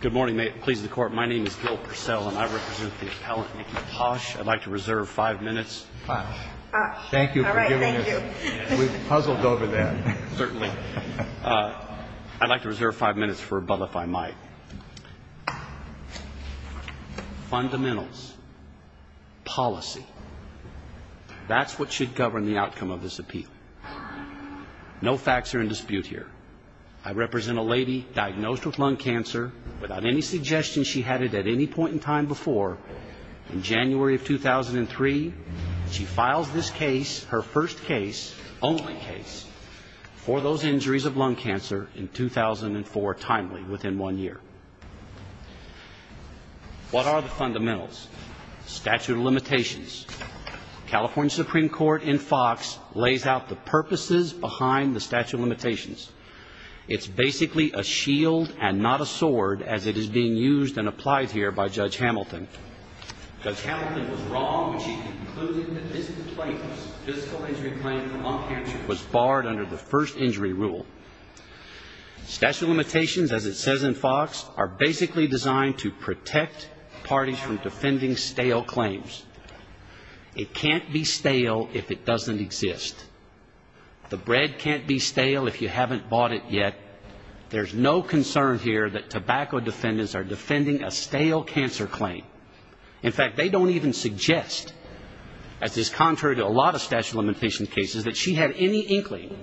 Good morning. May it please the Court, my name is Gil Purcell and I represent the appellant Nikki Posh. I'd like to reserve five minutes. Posh. All right. Thank you. Thank you for giving us. We've puzzled over that. Certainly. I'd like to reserve five minutes for a bubble if I might. Fundamentals, policy. That's what should govern the outcome of this appeal. No facts are in dispute here. I represent a lady diagnosed with lung cancer without any suggestion she had it at any point in time before. In January of 2003, she files this case, her first case, only case, for those injuries of lung cancer in 2004, timely, within one year. Statute of limitations. California Supreme Court in Fox lays out the purposes behind the statute of limitations. It's basically a shield and not a sword as it is being used and applied here by Judge Hamilton. Judge Hamilton was wrong when she concluded that this plaintiff's physical injury claim for lung cancer was barred under the first injury rule. Statute of limitations, as it says in Fox, are basically designed to protect parties from defending stale claims. It can't be stale if it doesn't exist. The bread can't be stale if you haven't bought it yet. There's no concern here that tobacco defendants are defending a stale cancer claim. In fact, they don't even suggest, as is contrary to a lot of statute of limitations cases, that she had any inkling,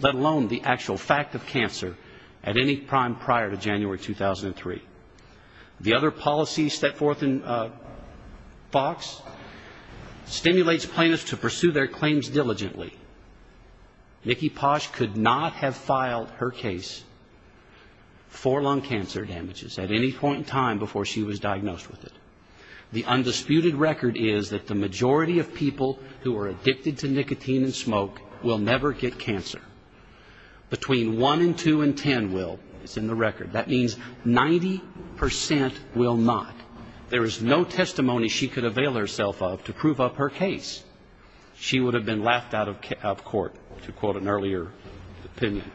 let alone the actual fact of cancer, at any time prior to January of 2003. The other policy set forth in Fox stimulates plaintiffs to pursue their claims diligently. Nikki Posh could not have filed her case for lung cancer damages at any point in time before she was diagnosed with it. The undisputed record is that the majority of people who are addicted to nicotine and smoke will never get cancer. Between one and two in ten will. It's in the record. That means 90% will not. There is no testimony she could avail herself of to prove up her case. She would have been laughed out of court, to quote an earlier opinion.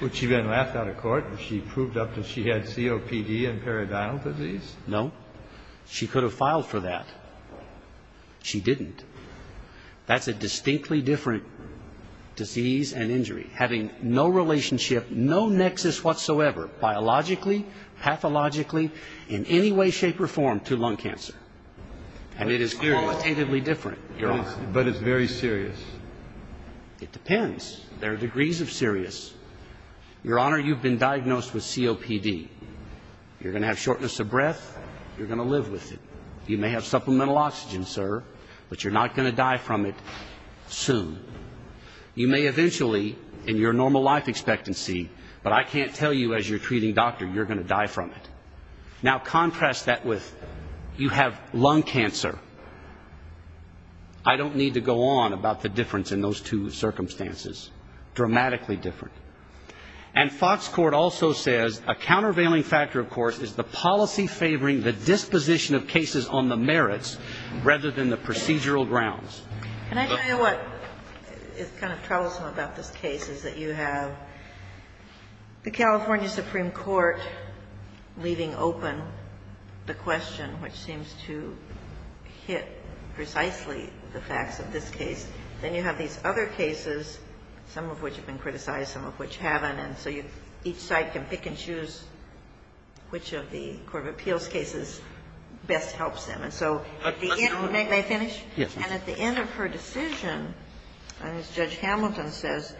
Would she have been laughed out of court if she proved up that she had COPD and periodontal disease? No. She could have filed for that. She didn't. That's a distinctly different disease and injury. Having no relationship, no nexus whatsoever, biologically, pathologically, in any way, shape or form to lung cancer. And it is qualitatively different, Your Honor. But it's very serious. It depends. There are degrees of serious. Your Honor, you've been diagnosed with COPD. You're going to have shortness of breath. You're going to live with it. You may have supplemental oxygen, sir, but you're not going to die from it soon. You may eventually, in your normal life expectancy, but I can't tell you as you're treating doctor, you're going to die from it. Now, contrast that with you have lung cancer. I don't need to go on about the difference in those two circumstances. Dramatically different. And Fox Court also says a countervailing factor, of course, is the policy favoring the disposition of cases on the merits rather than the procedural grounds. Can I tell you what is kind of troublesome about this case is that you have the California Supreme Court leaving open the question, which seems to hit precisely the facts of this case. Then you have these other cases, some of which have been criticized, some of which haven't. And so each side can pick and choose which of the court of appeals cases best helps them. And so at the end, may I finish? And at the end of her decision, and as Judge Hamilton says,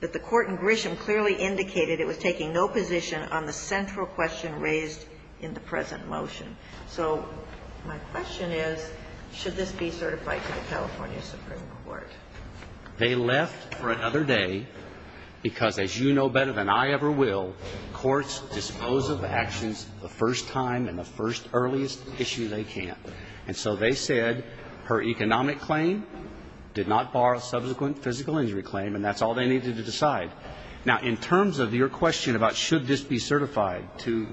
that the court in Grisham clearly indicated it was taking no position on the central question raised in the present motion. So my question is, should this be certified to the California Supreme Court? They left for another day because, as you know better than I ever will, courts dispose of actions the first time and the first earliest issue they can. And so they said her economic claim did not bar a subsequent physical injury claim, and that's all they needed to decide. Now, in terms of your question about should this be certified to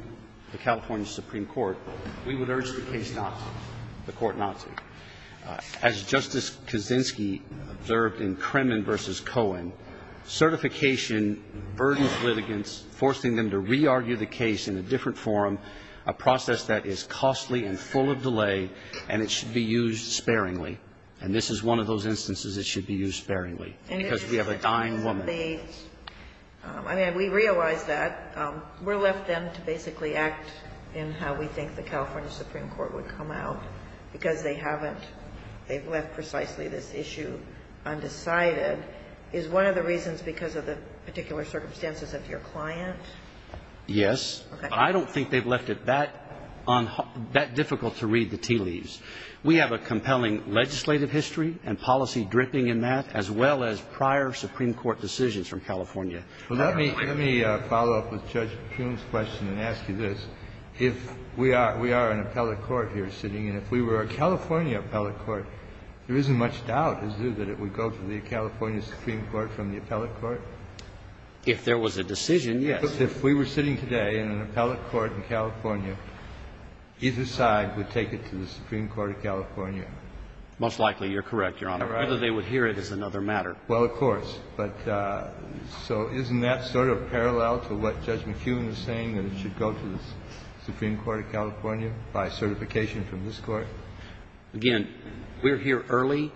the California Supreme Court, we would urge the case not to, the court not to. As Justice Kaczynski observed in Kremen v. Cohen, certification burdens litigants, forcing them to re-argue the case in a different form, a process that is costly and full of delay, and it should be used sparingly. And this is one of those instances it should be used sparingly, because we have a dying woman. I mean, we realize that. We're left then to basically act in how we think the California Supreme Court would come out, because they haven't. They've left precisely this issue undecided. Is one of the reasons because of the particular circumstances of your client? Yes. I don't think they've left it that difficult to read the tea leaves. We have a compelling legislative history and policy dripping in that, as well as prior Supreme Court decisions from California. Well, let me follow up with Judge Prune's question and ask you this. If we are an appellate court here sitting, and if we were a California appellate court, there isn't much doubt, is there, that it would go to the California Supreme Court from the appellate court? If there was a decision, yes. If we were sitting today in an appellate court in California, either side would take it to the Supreme Court of California? Most likely, you're correct, Your Honor. Whether they would hear it is another matter. Well, of course. But so isn't that sort of parallel to what Judge McEwen was saying, that it should go to the Supreme Court of California by certification from this Court? Again, we're here early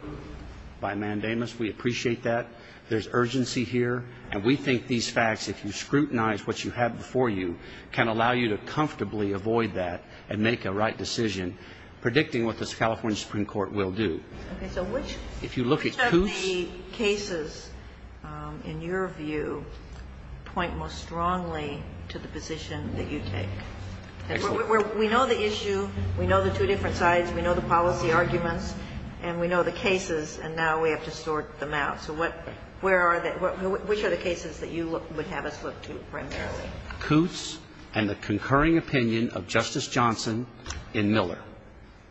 by mandamus. We appreciate that. There's urgency here. And we think these facts, if you scrutinize what you have before you, can allow you to comfortably avoid that and make a right decision predicting what this California Supreme Court will do. Okay. So which of the cases in your view point most strongly to the position that you take? Excellent. We know the issue. We know the two different sides. We know the policy arguments. And we know the cases. So what – where are the – which of the two sides do we have to sort out? Which are the cases that you would have us look to, for instance? Coots and the concurring opinion of Justice Johnson in Miller.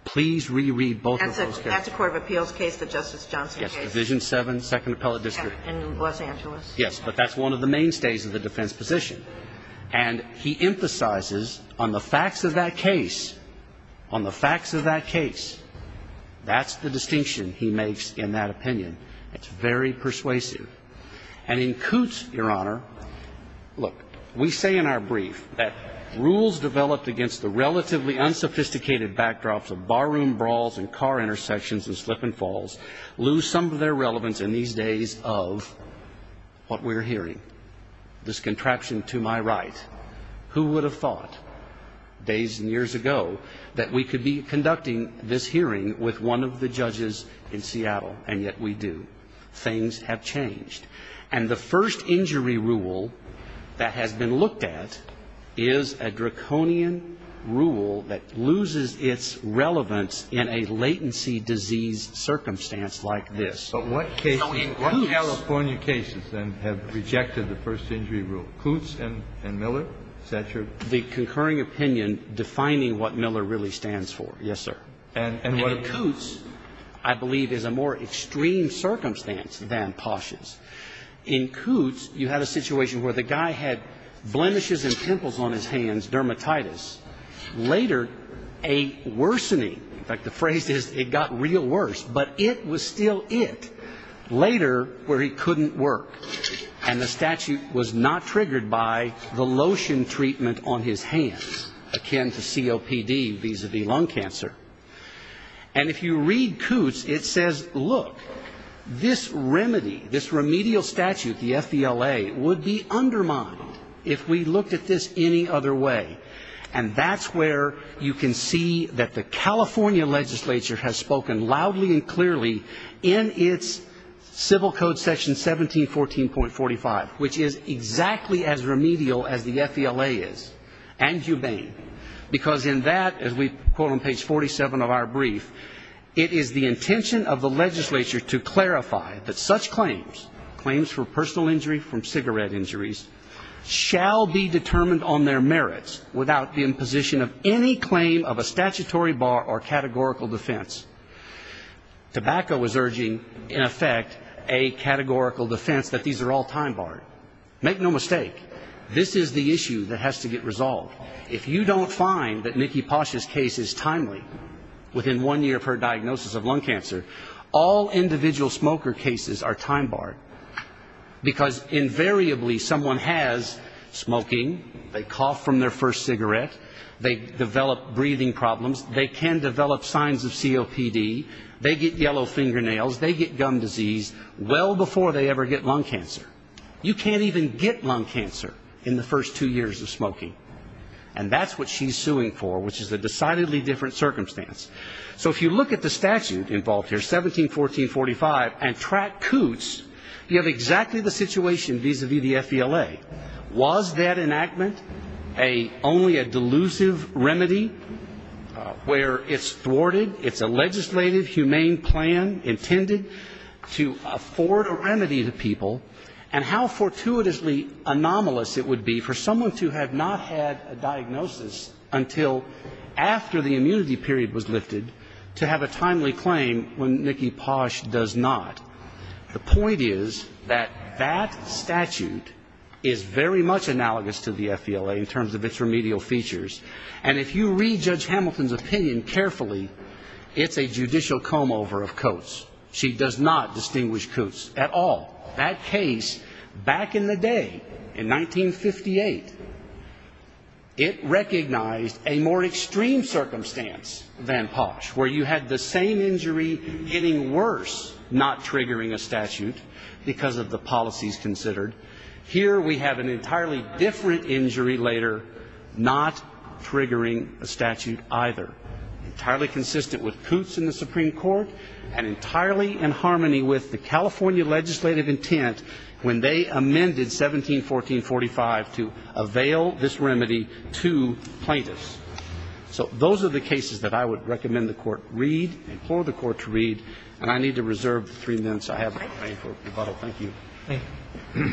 Please re-read both of those cases. That's a court of appeals case, the Justice Johnson case. Yes, Division 7, Second Appellate District. In Los Angeles. Yes. But that's one of the mainstays of the defense position. And he emphasizes on the facts of that case, on the facts of that case, that's the distinction he makes in that opinion. It's very persuasive. And in Coots, Your Honor, look, we say in our brief that rules developed against the relatively unsophisticated backdrops of barroom brawls and car intersections and slip and falls lose some of their relevance in these days of what we're hearing, this contraption to my right. Who would have thought, days and years ago, that we could be conducting this hearing with one of the judges in Seattle? And yet we do. Things have changed. And the first injury rule that has been looked at is a draconian rule that loses its relevance in a latency disease circumstance like this. So in Coots But what cases, what California cases, then, have rejected the first injury rule? Coots and Miller, Satcher? The concurring opinion defining what Miller really stands for, yes, sir. And in Coots, I believe, is a more extreme circumstance than Posh's. In Coots, you had a situation where the guy had blemishes and pimples on his hands, dermatitis. Later, a worsening, like the phrase is, it got real worse, but it was still it, later where he couldn't work. And the statute was not triggered by the lotion treatment on his hands, akin to And if you read Coots, it says, look, this remedy, this remedial statute, the FVLA, would be undermined if we looked at this any other way. And that's where you can see that the California legislature has spoken loudly and clearly in its civil code section 1714.45, which is exactly as remedial as the FVLA is. And Hubein. Because in that, as we quote on page 47 of our brief, it is the intention of the legislature to clarify that such claims, claims for personal injury from cigarette injuries, shall be determined on their merits without the imposition of any claim of a statutory bar or categorical defense. Tobacco is urging, in effect, a categorical defense that these are all time barred. Make no mistake. This is the issue that has to get resolved. If you don't find that Nikki Pasha's case is timely, within one year of her diagnosis of lung cancer, all individual smoker cases are time barred. Because invariably, someone has smoking, they cough from their first cigarette, they develop breathing problems, they can develop signs of COPD, they get yellow fingernails, they get gum disease well before they ever get lung cancer. You can't even get lung cancer in the first two years of smoking. And that's what she's suing for, which is a decidedly different circumstance. So if you look at the statute involved here, 1714.45, and track coots, you have exactly the situation vis-a-vis the FVLA. Was that enactment only a delusive remedy where it's thwarted, it's a legislative, humane plan intended to afford a remedy to people, and how fortuitously anomalous it would be for someone to have not had a diagnosis until after the immunity period was lifted to have a timely claim when Nikki Pasha does not. The point is that that statute is very much analogous to the FVLA in terms of its remedial features. And if you read Judge Hamilton's opinion carefully, it's a judicial comb-over of coots. She does not distinguish coots at all. That case, back in the day, in 1958, it recognized a more extreme circumstance than Posh, where you had the same injury getting worse, not triggering a statute because of the policies considered. Here we have an entirely different injury later, not triggering a statute either. Entirely consistent with coots in the Supreme Court, and entirely in harmony with the California legislative intent when they amended 1714.45 to avail this remedy to plaintiffs. So those are the cases that I would recommend the Court read, implore the Court to read, and I need to reserve three minutes. I have a complaint for rebuttal. Thank you. Thank you.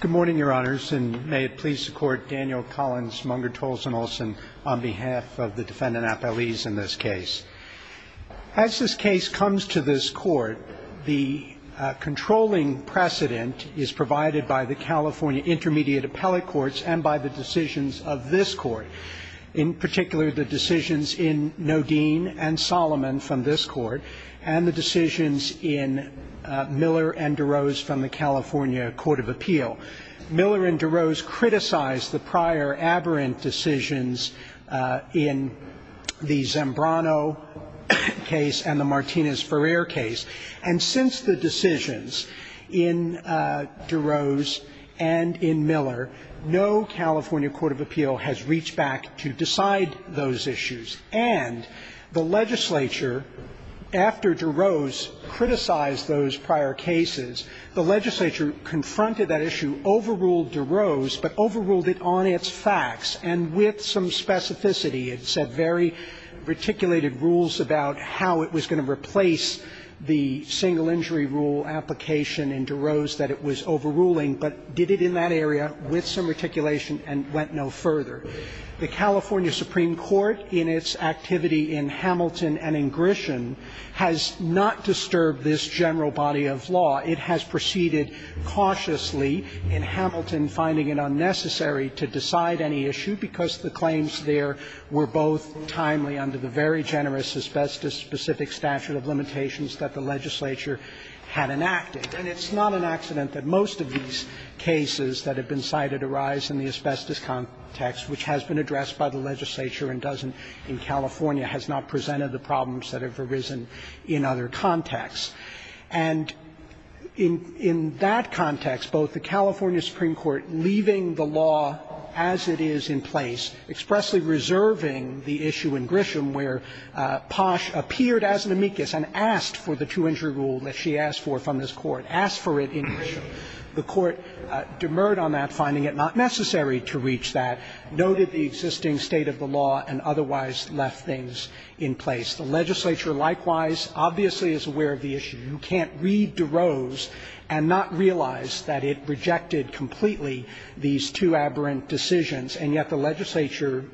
Good morning, Your Honors, and may it please the Court, Daniel Collins, Munger, Tolson, Olson, on behalf of the defendant appellees in this case. As this case comes to this Court, the controlling precedent is provided by the California Intermediate Appellate Courts and by the decisions of this Court, in particular the decisions in Nodine and Solomon from this Court, and the decisions in Miller and DeRose from the California Court of Appeal. Miller and DeRose criticized the prior aberrant decisions in the Zembrano case and the Martinez-Ferrer case. And since the decisions in DeRose and in Miller, no California court of appeal has reached back to decide those issues. And the legislature, after DeRose criticized those prior cases, the legislature confronted that issue, overruled DeRose, but overruled it on its facts and with some specificity. It set very reticulated rules about how it was going to replace the single injury rule application in DeRose that it was overruling, but did it in that area with some reticulation and went no further. The California Supreme Court, in its activity in Hamilton and in Grisham, has not disturbed this general body of law. It has proceeded cautiously in Hamilton, finding it unnecessary to decide any issue because the claims there were both timely under the very generous asbestos-specific statute of limitations that the legislature had enacted. And it's not an accident that most of these cases that have been cited arise in the asbestos context, which has been addressed by the legislature and doesn't in California has not presented the problems that have arisen in other contexts. And in that context, both the California Supreme Court leaving the law as it is in place, expressly reserving the issue in Grisham where Posh appeared as an amicus and asked for the two-injury rule that she asked for from this Court, asked for it in Grisham, the Court demurred on that, finding it not necessary to reach that, noted the existing state of the law, and otherwise left things in place. The legislature, likewise, obviously is aware of the issue. You can't read DeRose and not realize that it rejected completely these two aberrant decisions, and yet the legislature,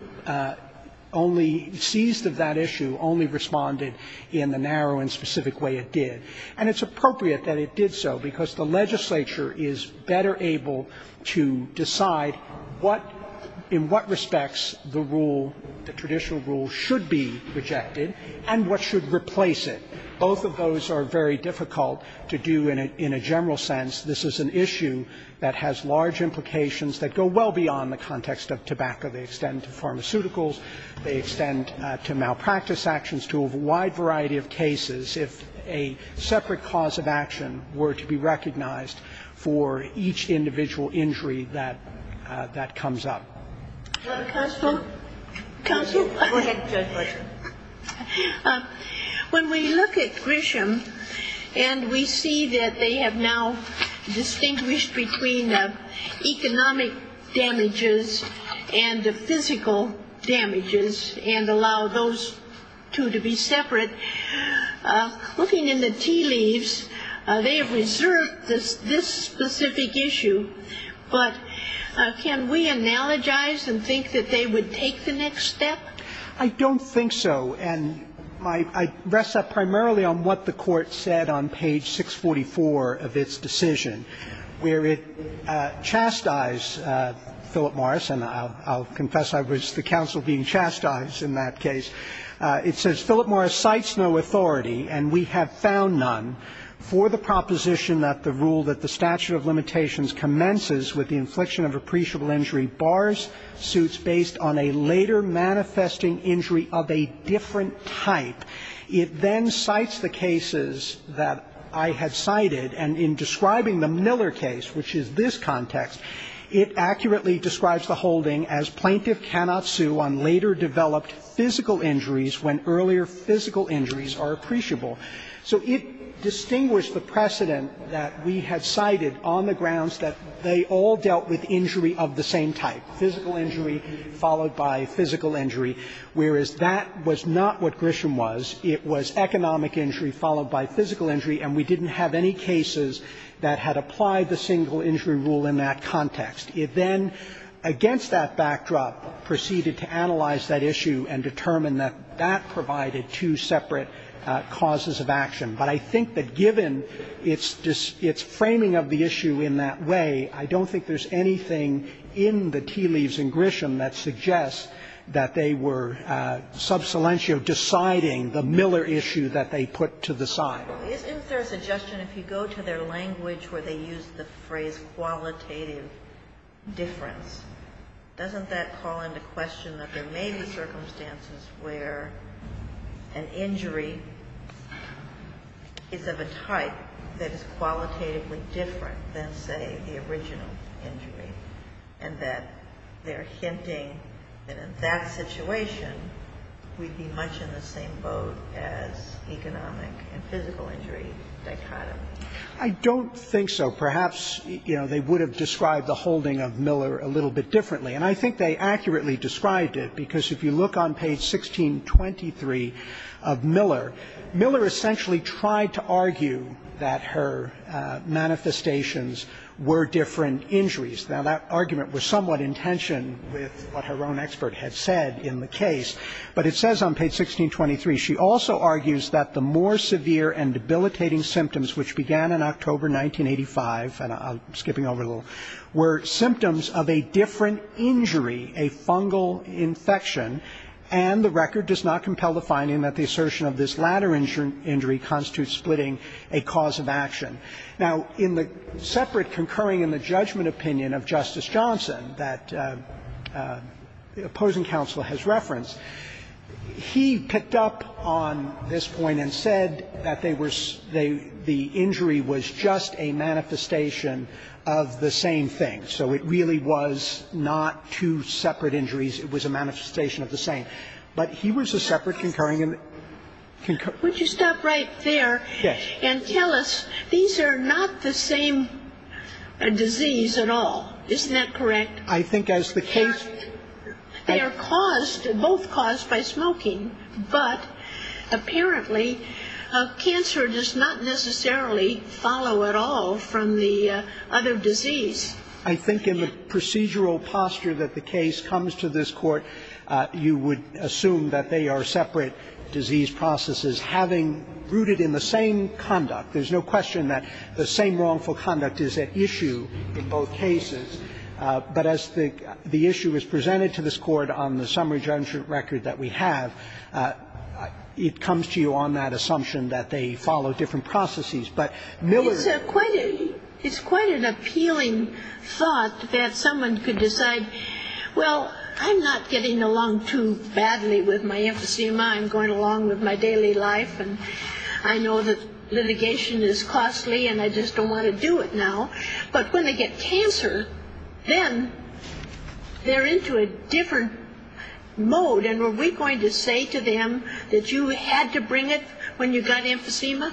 only seized of that issue, only responded in the narrow and specific way it did. And it's appropriate that it did so because the legislature is better able to decide what, in what respects the rule, the traditional rule should be rejected and what should replace it. Both of those are very difficult to do in a general sense. This is an issue that has large implications that go well beyond the context of tobacco. They extend to pharmaceuticals. They extend to malpractice actions, to a wide variety of cases. If a separate cause of action were to be recognized for each individual injury that comes up. Do you have a question? Counsel? Go ahead, Judge Blaser. When we look at Grisham and we see that they have now distinguished between economic damages and the physical damages and allow those two to be separate, looking in the tea leaves, they have reserved this specific issue. But can we analogize and think that they would take the next step? I don't think so, and I rest that primarily on what the court said on page 644 of its decision, where it chastised Philip Morris, and I'll confess I was the counsel being chastised in that case. It says, Philip Morris cites no authority, and we have found none, for the proposition that the rule that the statute of limitations commences with the infliction of appreciable injury bars suits based on a later manifesting injury of a different type. It then cites the cases that I had cited, and in describing the Miller case, which is this context, it accurately describes the holding as plaintiff cannot sue on later developed physical injuries when earlier physical injuries are appreciable. So it distinguished the precedent that we had cited on the grounds that they all dealt with injury of the same type, physical injury followed by physical injury, whereas that was not what Grisham was. It was economic injury followed by physical injury, and we didn't have any cases that had applied the single injury rule in that context. It then, against that backdrop, proceeded to analyze that issue and determine that that provided two separate causes of action. But I think that given its framing of the issue in that way, I don't think there's anything in the tea leaves in Grisham that suggests that they were subsilentio deciding the Miller issue that they put to the side. Ginsburg. Isn't there a suggestion if you go to their language where they use the phrase qualitative difference, doesn't that call into question that there may be circumstances where an injury is of a type that is qualitatively different than, say, the original injury, and that they're hinting that in that situation we'd be much in the same boat as economic and physical injury dichotomy? I don't think so. Perhaps, you know, they would have described the holding of Miller a little bit differently, and I think they accurately described it, because if you look on page 1623 of Miller, Miller essentially tried to argue that her manifestations were different injuries. Now, that argument was somewhat in tension with what her own expert had said in the case, but it says on page 1623, she also argues that the more severe and debilitating symptoms, which began in October 1985, and I'm skipping over a little, were symptoms of a different injury, a fungal infection, and the record does not compel the finding that the assertion of this latter injury constitutes splitting a cause of action. Now, in the separate concurring in the judgment opinion of Justice Johnson that the opposing counsel has referenced, he picked up on this point and said that they were the injury was just a manifestation of the same thing. So it really was not two separate injuries. It was a manifestation of the same. But he was a separate concurring in the... Would you stop right there and tell us, these are not the same disease at all. Isn't that correct? I think as the case... They are caused, both caused by smoking, but apparently cancer does not necessarily follow at all from the other disease. I think in the procedural posture that the case comes to this court, you would assume that they are separate disease processes having rooted in the same conduct. There's no question that the same wrongful conduct is at issue in both cases, but as the issue is presented to this court on the summary judgment record that we have, it comes to you on that assumption that they follow different processes. But Miller... It's quite an appealing thought that someone could decide, well, I'm not getting along too badly with my emphysema. I'm going along with my daily life and I know that litigation is costly and I just don't want to do it now. But when they get cancer, then they're into a different mode. And were we going to say to them that you had to bring it when you got emphysema?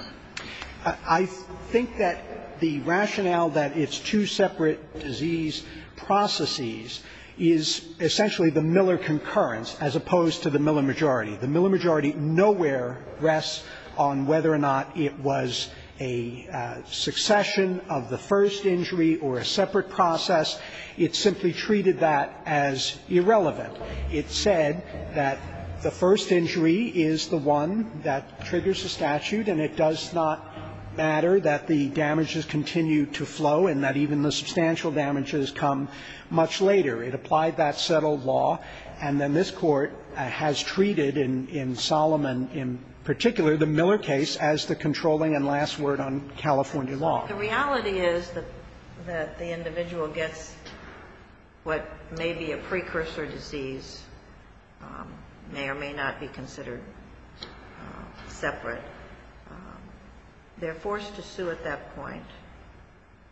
I think that the rationale that it's two separate disease processes is essentially the Miller concurrence as opposed to the Miller majority. The Miller majority nowhere rests on whether or not it was a succession of the first injury or a separate process. It simply treated that as irrelevant. It said that the first injury is the one that triggers the statute and it does not matter that the damages continue to flow and that even the substantial damages come much later. It applied that settled law and then this Court has treated in Solomon in particular the Miller case as the controlling and last word on California law. The reality is that the individual gets what may be a precursor disease, may or may not be considered separate. They're forced to sue at that point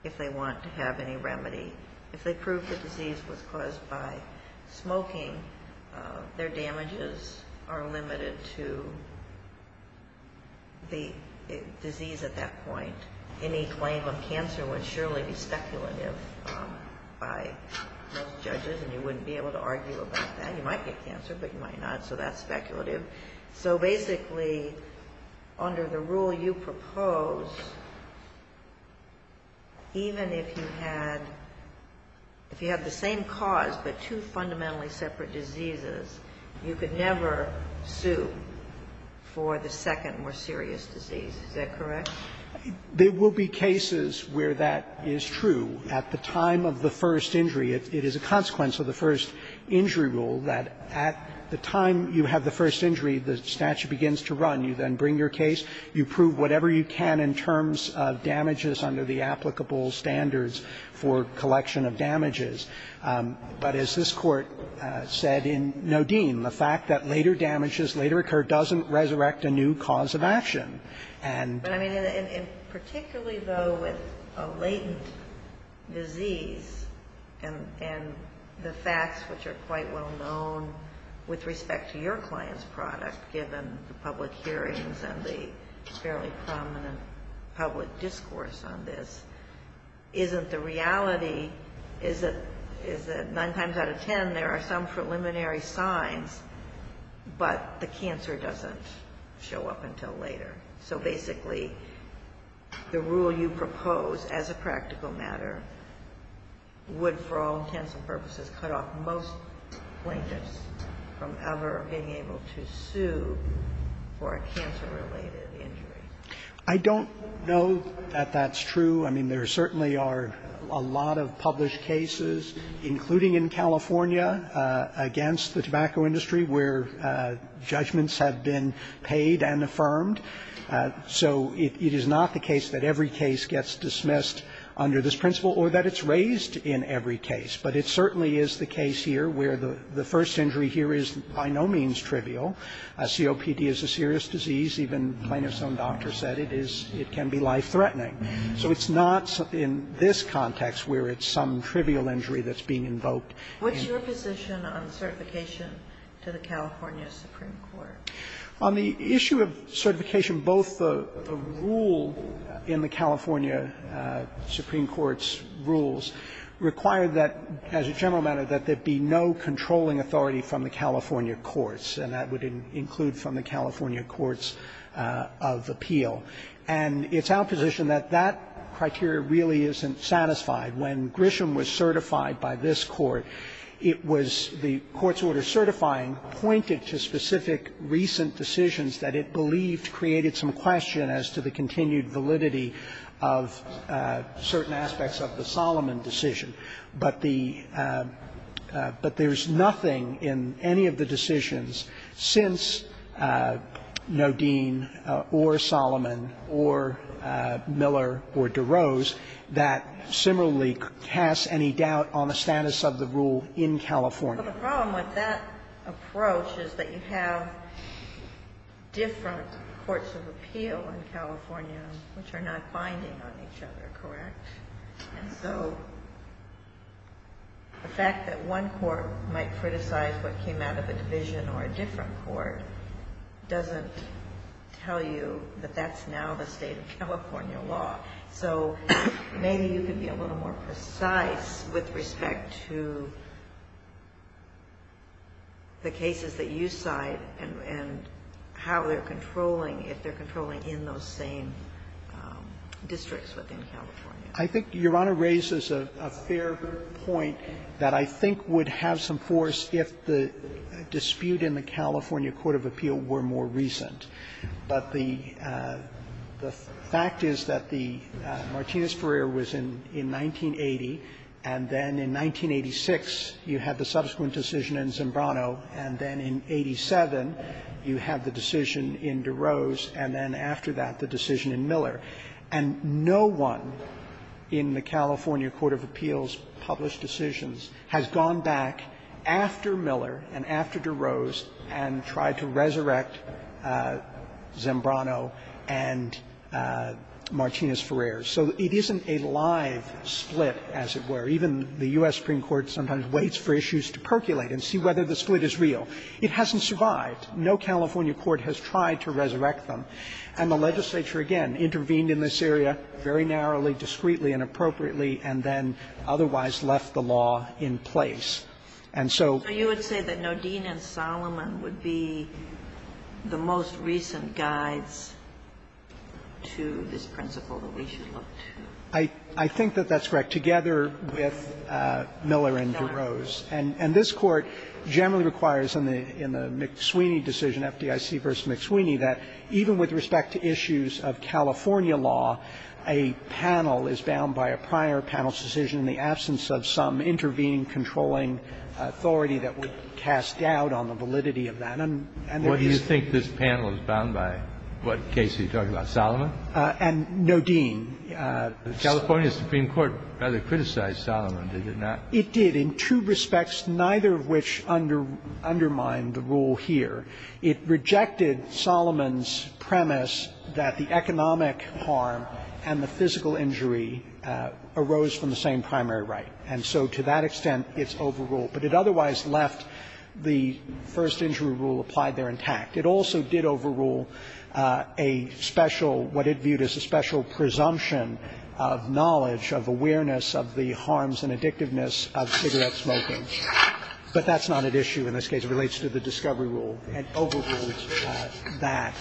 if they want to have any remedy. If they prove the disease was caused by smoking, their damages are limited to the disease at that point. Any claim of cancer would surely be speculative by most judges and you wouldn't be able to argue about that. You might get cancer, but you might not, so that's speculative. So basically, under the rule you propose, even if you had the same cause but two fundamentally separate diseases, you could never sue for the second more serious disease, is that correct? There will be cases where that is true. At the time of the first injury, it is a consequence of the first injury rule that at the time you have the first injury, the statute begins to run. You then bring your case. You prove whatever you can in terms of damages under the applicable standards for collection of damages. But as this Court said in Nodine, the fact that later damages later occur doesn't resurrect a new cause of action. And particularly though with a latent disease and the facts which are quite well known with respect to your client's product given the public hearings and the fairly prominent public discourse on this, isn't the reality is that nine times out of ten there are some preliminary signs, but the cancer doesn't show up until later? So basically, the rule you propose as a practical matter would, for all intents and purposes, cut off most plaintiffs from ever being able to sue for a cancer-related injury. I don't know that that's true. I mean, there certainly are a lot of published cases, including in California against the tobacco industry, where judgments have been paid and affirmed. So it is not the case that every case gets dismissed under this principle or that it's raised in every case. But it certainly is the case here where the first injury here is by no means trivial. COPD is a serious disease. Even plaintiff's own doctor said it can be life-threatening. So it's not in this context where it's some trivial injury that's being invoked. What's your position on certification to the California Supreme Court? On the issue of certification, both the rule in the California Supreme Court's rules require that, as a general matter, that there be no controlling authority from the California courts. And that would include from the California courts of appeal. And it's our position that that criteria really isn't satisfied. When Grisham was certified by this court, it was the court's order certifying pointed to specific recent decisions that it believed created some question as to the continued validity of certain aspects of the Solomon decision. But the – but there's nothing in any of the decisions since Nodine or Solomon or Miller or DeRose that similarly casts any doubt on the status of the rule in California. But the problem with that approach is that you have different courts of appeal in California which are not binding on each other, correct? And so the fact that one court might criticize what came out of a division or a different court doesn't tell you that that's now the state of California law. So maybe you could be a little more precise with respect to the cases that you cite and how they're controlling, if they're controlling in those same districts within California. I think Your Honor raises a fair point that I think would have some force if the dispute in the California court of appeal were more recent. But the fact is that the – Martinez-Ferrer was in 1980, and then in 1986 you had the subsequent decision in Zimbrano, and then in 87 you have the decision in DeRose and then after that the decision in Miller. And no one in the California court of appeals published decisions has gone back after DeRose and tried to resurrect Zimbrano and Martinez-Ferrer. So it isn't a live split, as it were. Even the U.S. Supreme Court sometimes waits for issues to percolate and see whether the split is real. It hasn't survived. No California court has tried to resurrect them. And the legislature, again, intervened in this area very narrowly, discreetly, inappropriately, and then otherwise left the law in place. And I think that Solomon would be the most recent guides to this principle that we should look to. I think that that's correct, together with Miller and DeRose. And this Court generally requires in the McSweeney decision, FDIC v. McSweeney, that even with respect to issues of California law, a panel is bound by a prior panel's decision in the absence of some intervening, controlling authority that would cast doubt on the validity of that. And there is no need to do that. Kennedy. What do you think this panel is bound by? What case are you talking about? Solomon? And Nodine. The California Supreme Court rather criticized Solomon, did it not? It did, in two respects, neither of which undermined the rule here. It rejected Solomon's premise that the economic harm and the physical injury arose from the same primary right. And so to that extent, it's overruled. But it otherwise left the first injury rule applied there intact. It also did overrule a special, what it viewed as a special presumption of knowledge, of awareness of the harms and addictiveness of cigarette smoking. But that's not at issue in this case. It relates to the discovery rule. It overruled that,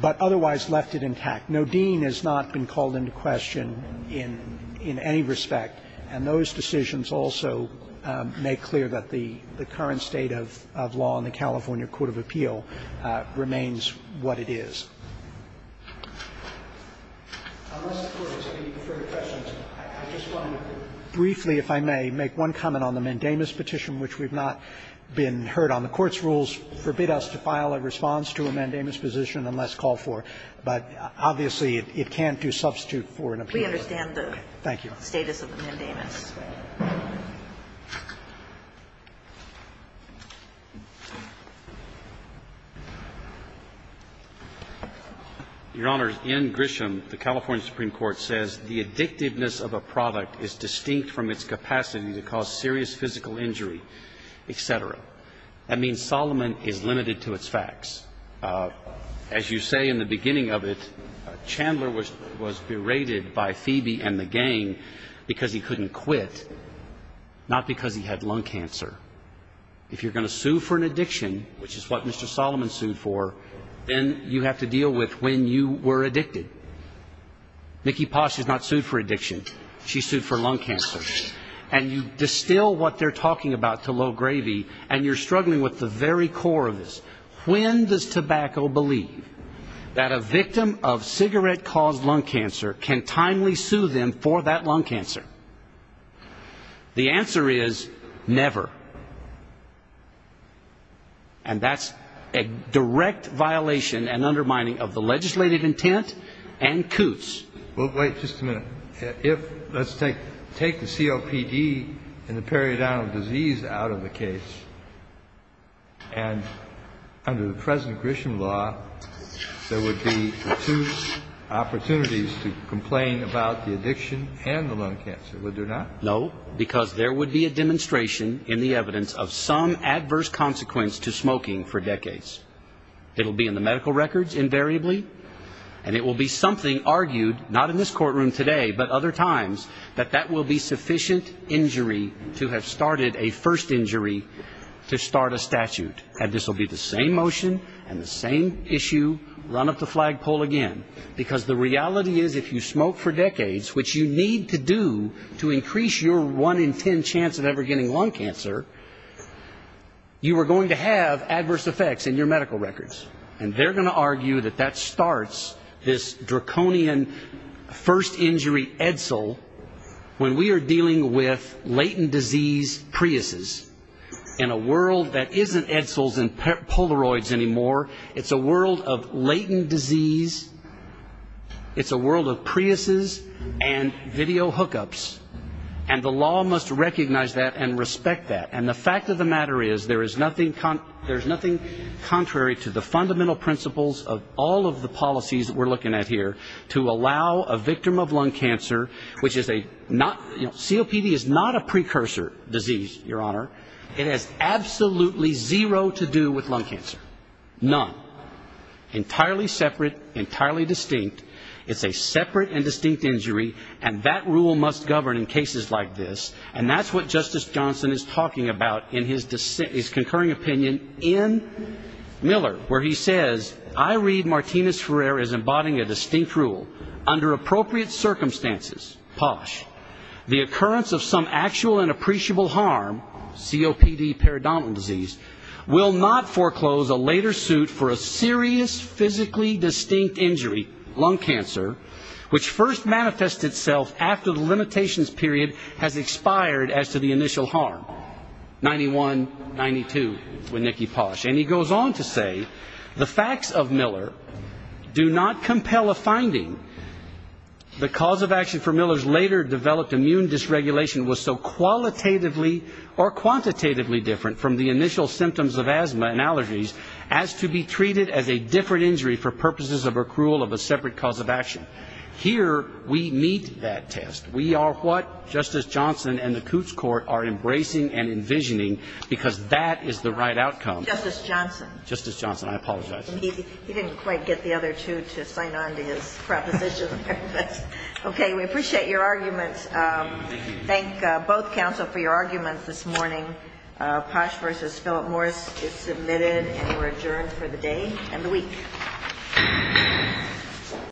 but otherwise left it intact. Nodine has not been called into question in any respect. And those decisions also make clear that the current state of law in the California court of appeal remains what it is. Unless the Court has any further questions, I just want to briefly, if I may, make one comment on the mandamus petition, which we've not been heard on. The Court's rules forbid us to file a response to a mandamus petition unless called for. But obviously, it can't do substitute for an appeal. Thank you. The status of the mandamus. Your Honor, in Grisham, the California Supreme Court says the addictiveness of a product is distinct from its capacity to cause serious physical injury, et cetera. That means Solomon is limited to its facts. As you say in the beginning of it, Chandler was berated by Phoebe and the gang for saying, because he couldn't quit, not because he had lung cancer. If you're going to sue for an addiction, which is what Mr. Solomon sued for, then you have to deal with when you were addicted. Nikki Posh is not sued for addiction. She's sued for lung cancer. And you distill what they're talking about to low gravy, and you're struggling with the very core of this. When does tobacco believe that a victim of cigarette-caused lung cancer can timely sue them for that lung cancer? The answer is never. And that's a direct violation and undermining of the legislative intent and Coutts. Well, wait just a minute. Let's take the COPD and the periodontal disease out of the case, and under the present Grisham law, there would be two opportunities to complain about the addiction and the lung cancer, would there not? No, because there would be a demonstration in the evidence of some adverse consequence to smoking for decades. It will be in the medical records, invariably, and it will be something argued, not in this courtroom today, but other times, that that will be sufficient injury to have started a first injury to start a statute. And this will be the same motion and the same issue, run up the flagpole again. Because the reality is, if you smoke for decades, which you need to do to increase your one in ten chance of ever getting lung cancer, you are going to have adverse effects in your medical records. And they're going to argue that that starts this draconian first injury Edsel when we are dealing with latent disease Priuses. In a world that isn't Edsels and Polaroids anymore, it's a world of latent disease, it's a world of Priuses and video hookups. And the law must recognize that and respect that. And the fact of the matter is, there is nothing contrary to the fundamental principles of all of the policies that we're looking at here to allow a victim of lung cancer, which is a not, COPD is not a precursor disease, Your Honor. It has absolutely zero to do with lung cancer. None. Entirely separate, entirely distinct. It's a separate and distinct injury. And that rule must govern in cases like this. And that's what Justice Johnson is talking about in his concurring opinion in Miller, where he says, I read Martinez-Ferrer as embodying a distinct rule. Under appropriate circumstances, posh, the occurrence of some actual and appreciable harm, COPD, periodontal disease, will not foreclose a later suit for a serious physically distinct injury, lung cancer, which first manifests itself after the limitations period has expired as to the initial harm. 91, 92, with Nicki Posh. And he goes on to say, the facts of Miller do not compel a finding. The cause of action for Miller's later developed immune dysregulation was so qualitatively or quantitatively different from the initial symptoms of asthma and allergies as to be treated as a different injury for purposes of accrual of a separate cause of action. Here we meet that test. We are what Justice Johnson and the Coots Court are embracing and envisioning, because that is the right outcome. Justice Johnson. Justice Johnson. I apologize. He didn't quite get the other two to sign on to his preposition. Okay. We appreciate your arguments. Thank both counsel for your arguments this morning. Posh v. Philip Morris is submitted and we're adjourned for the day and the week.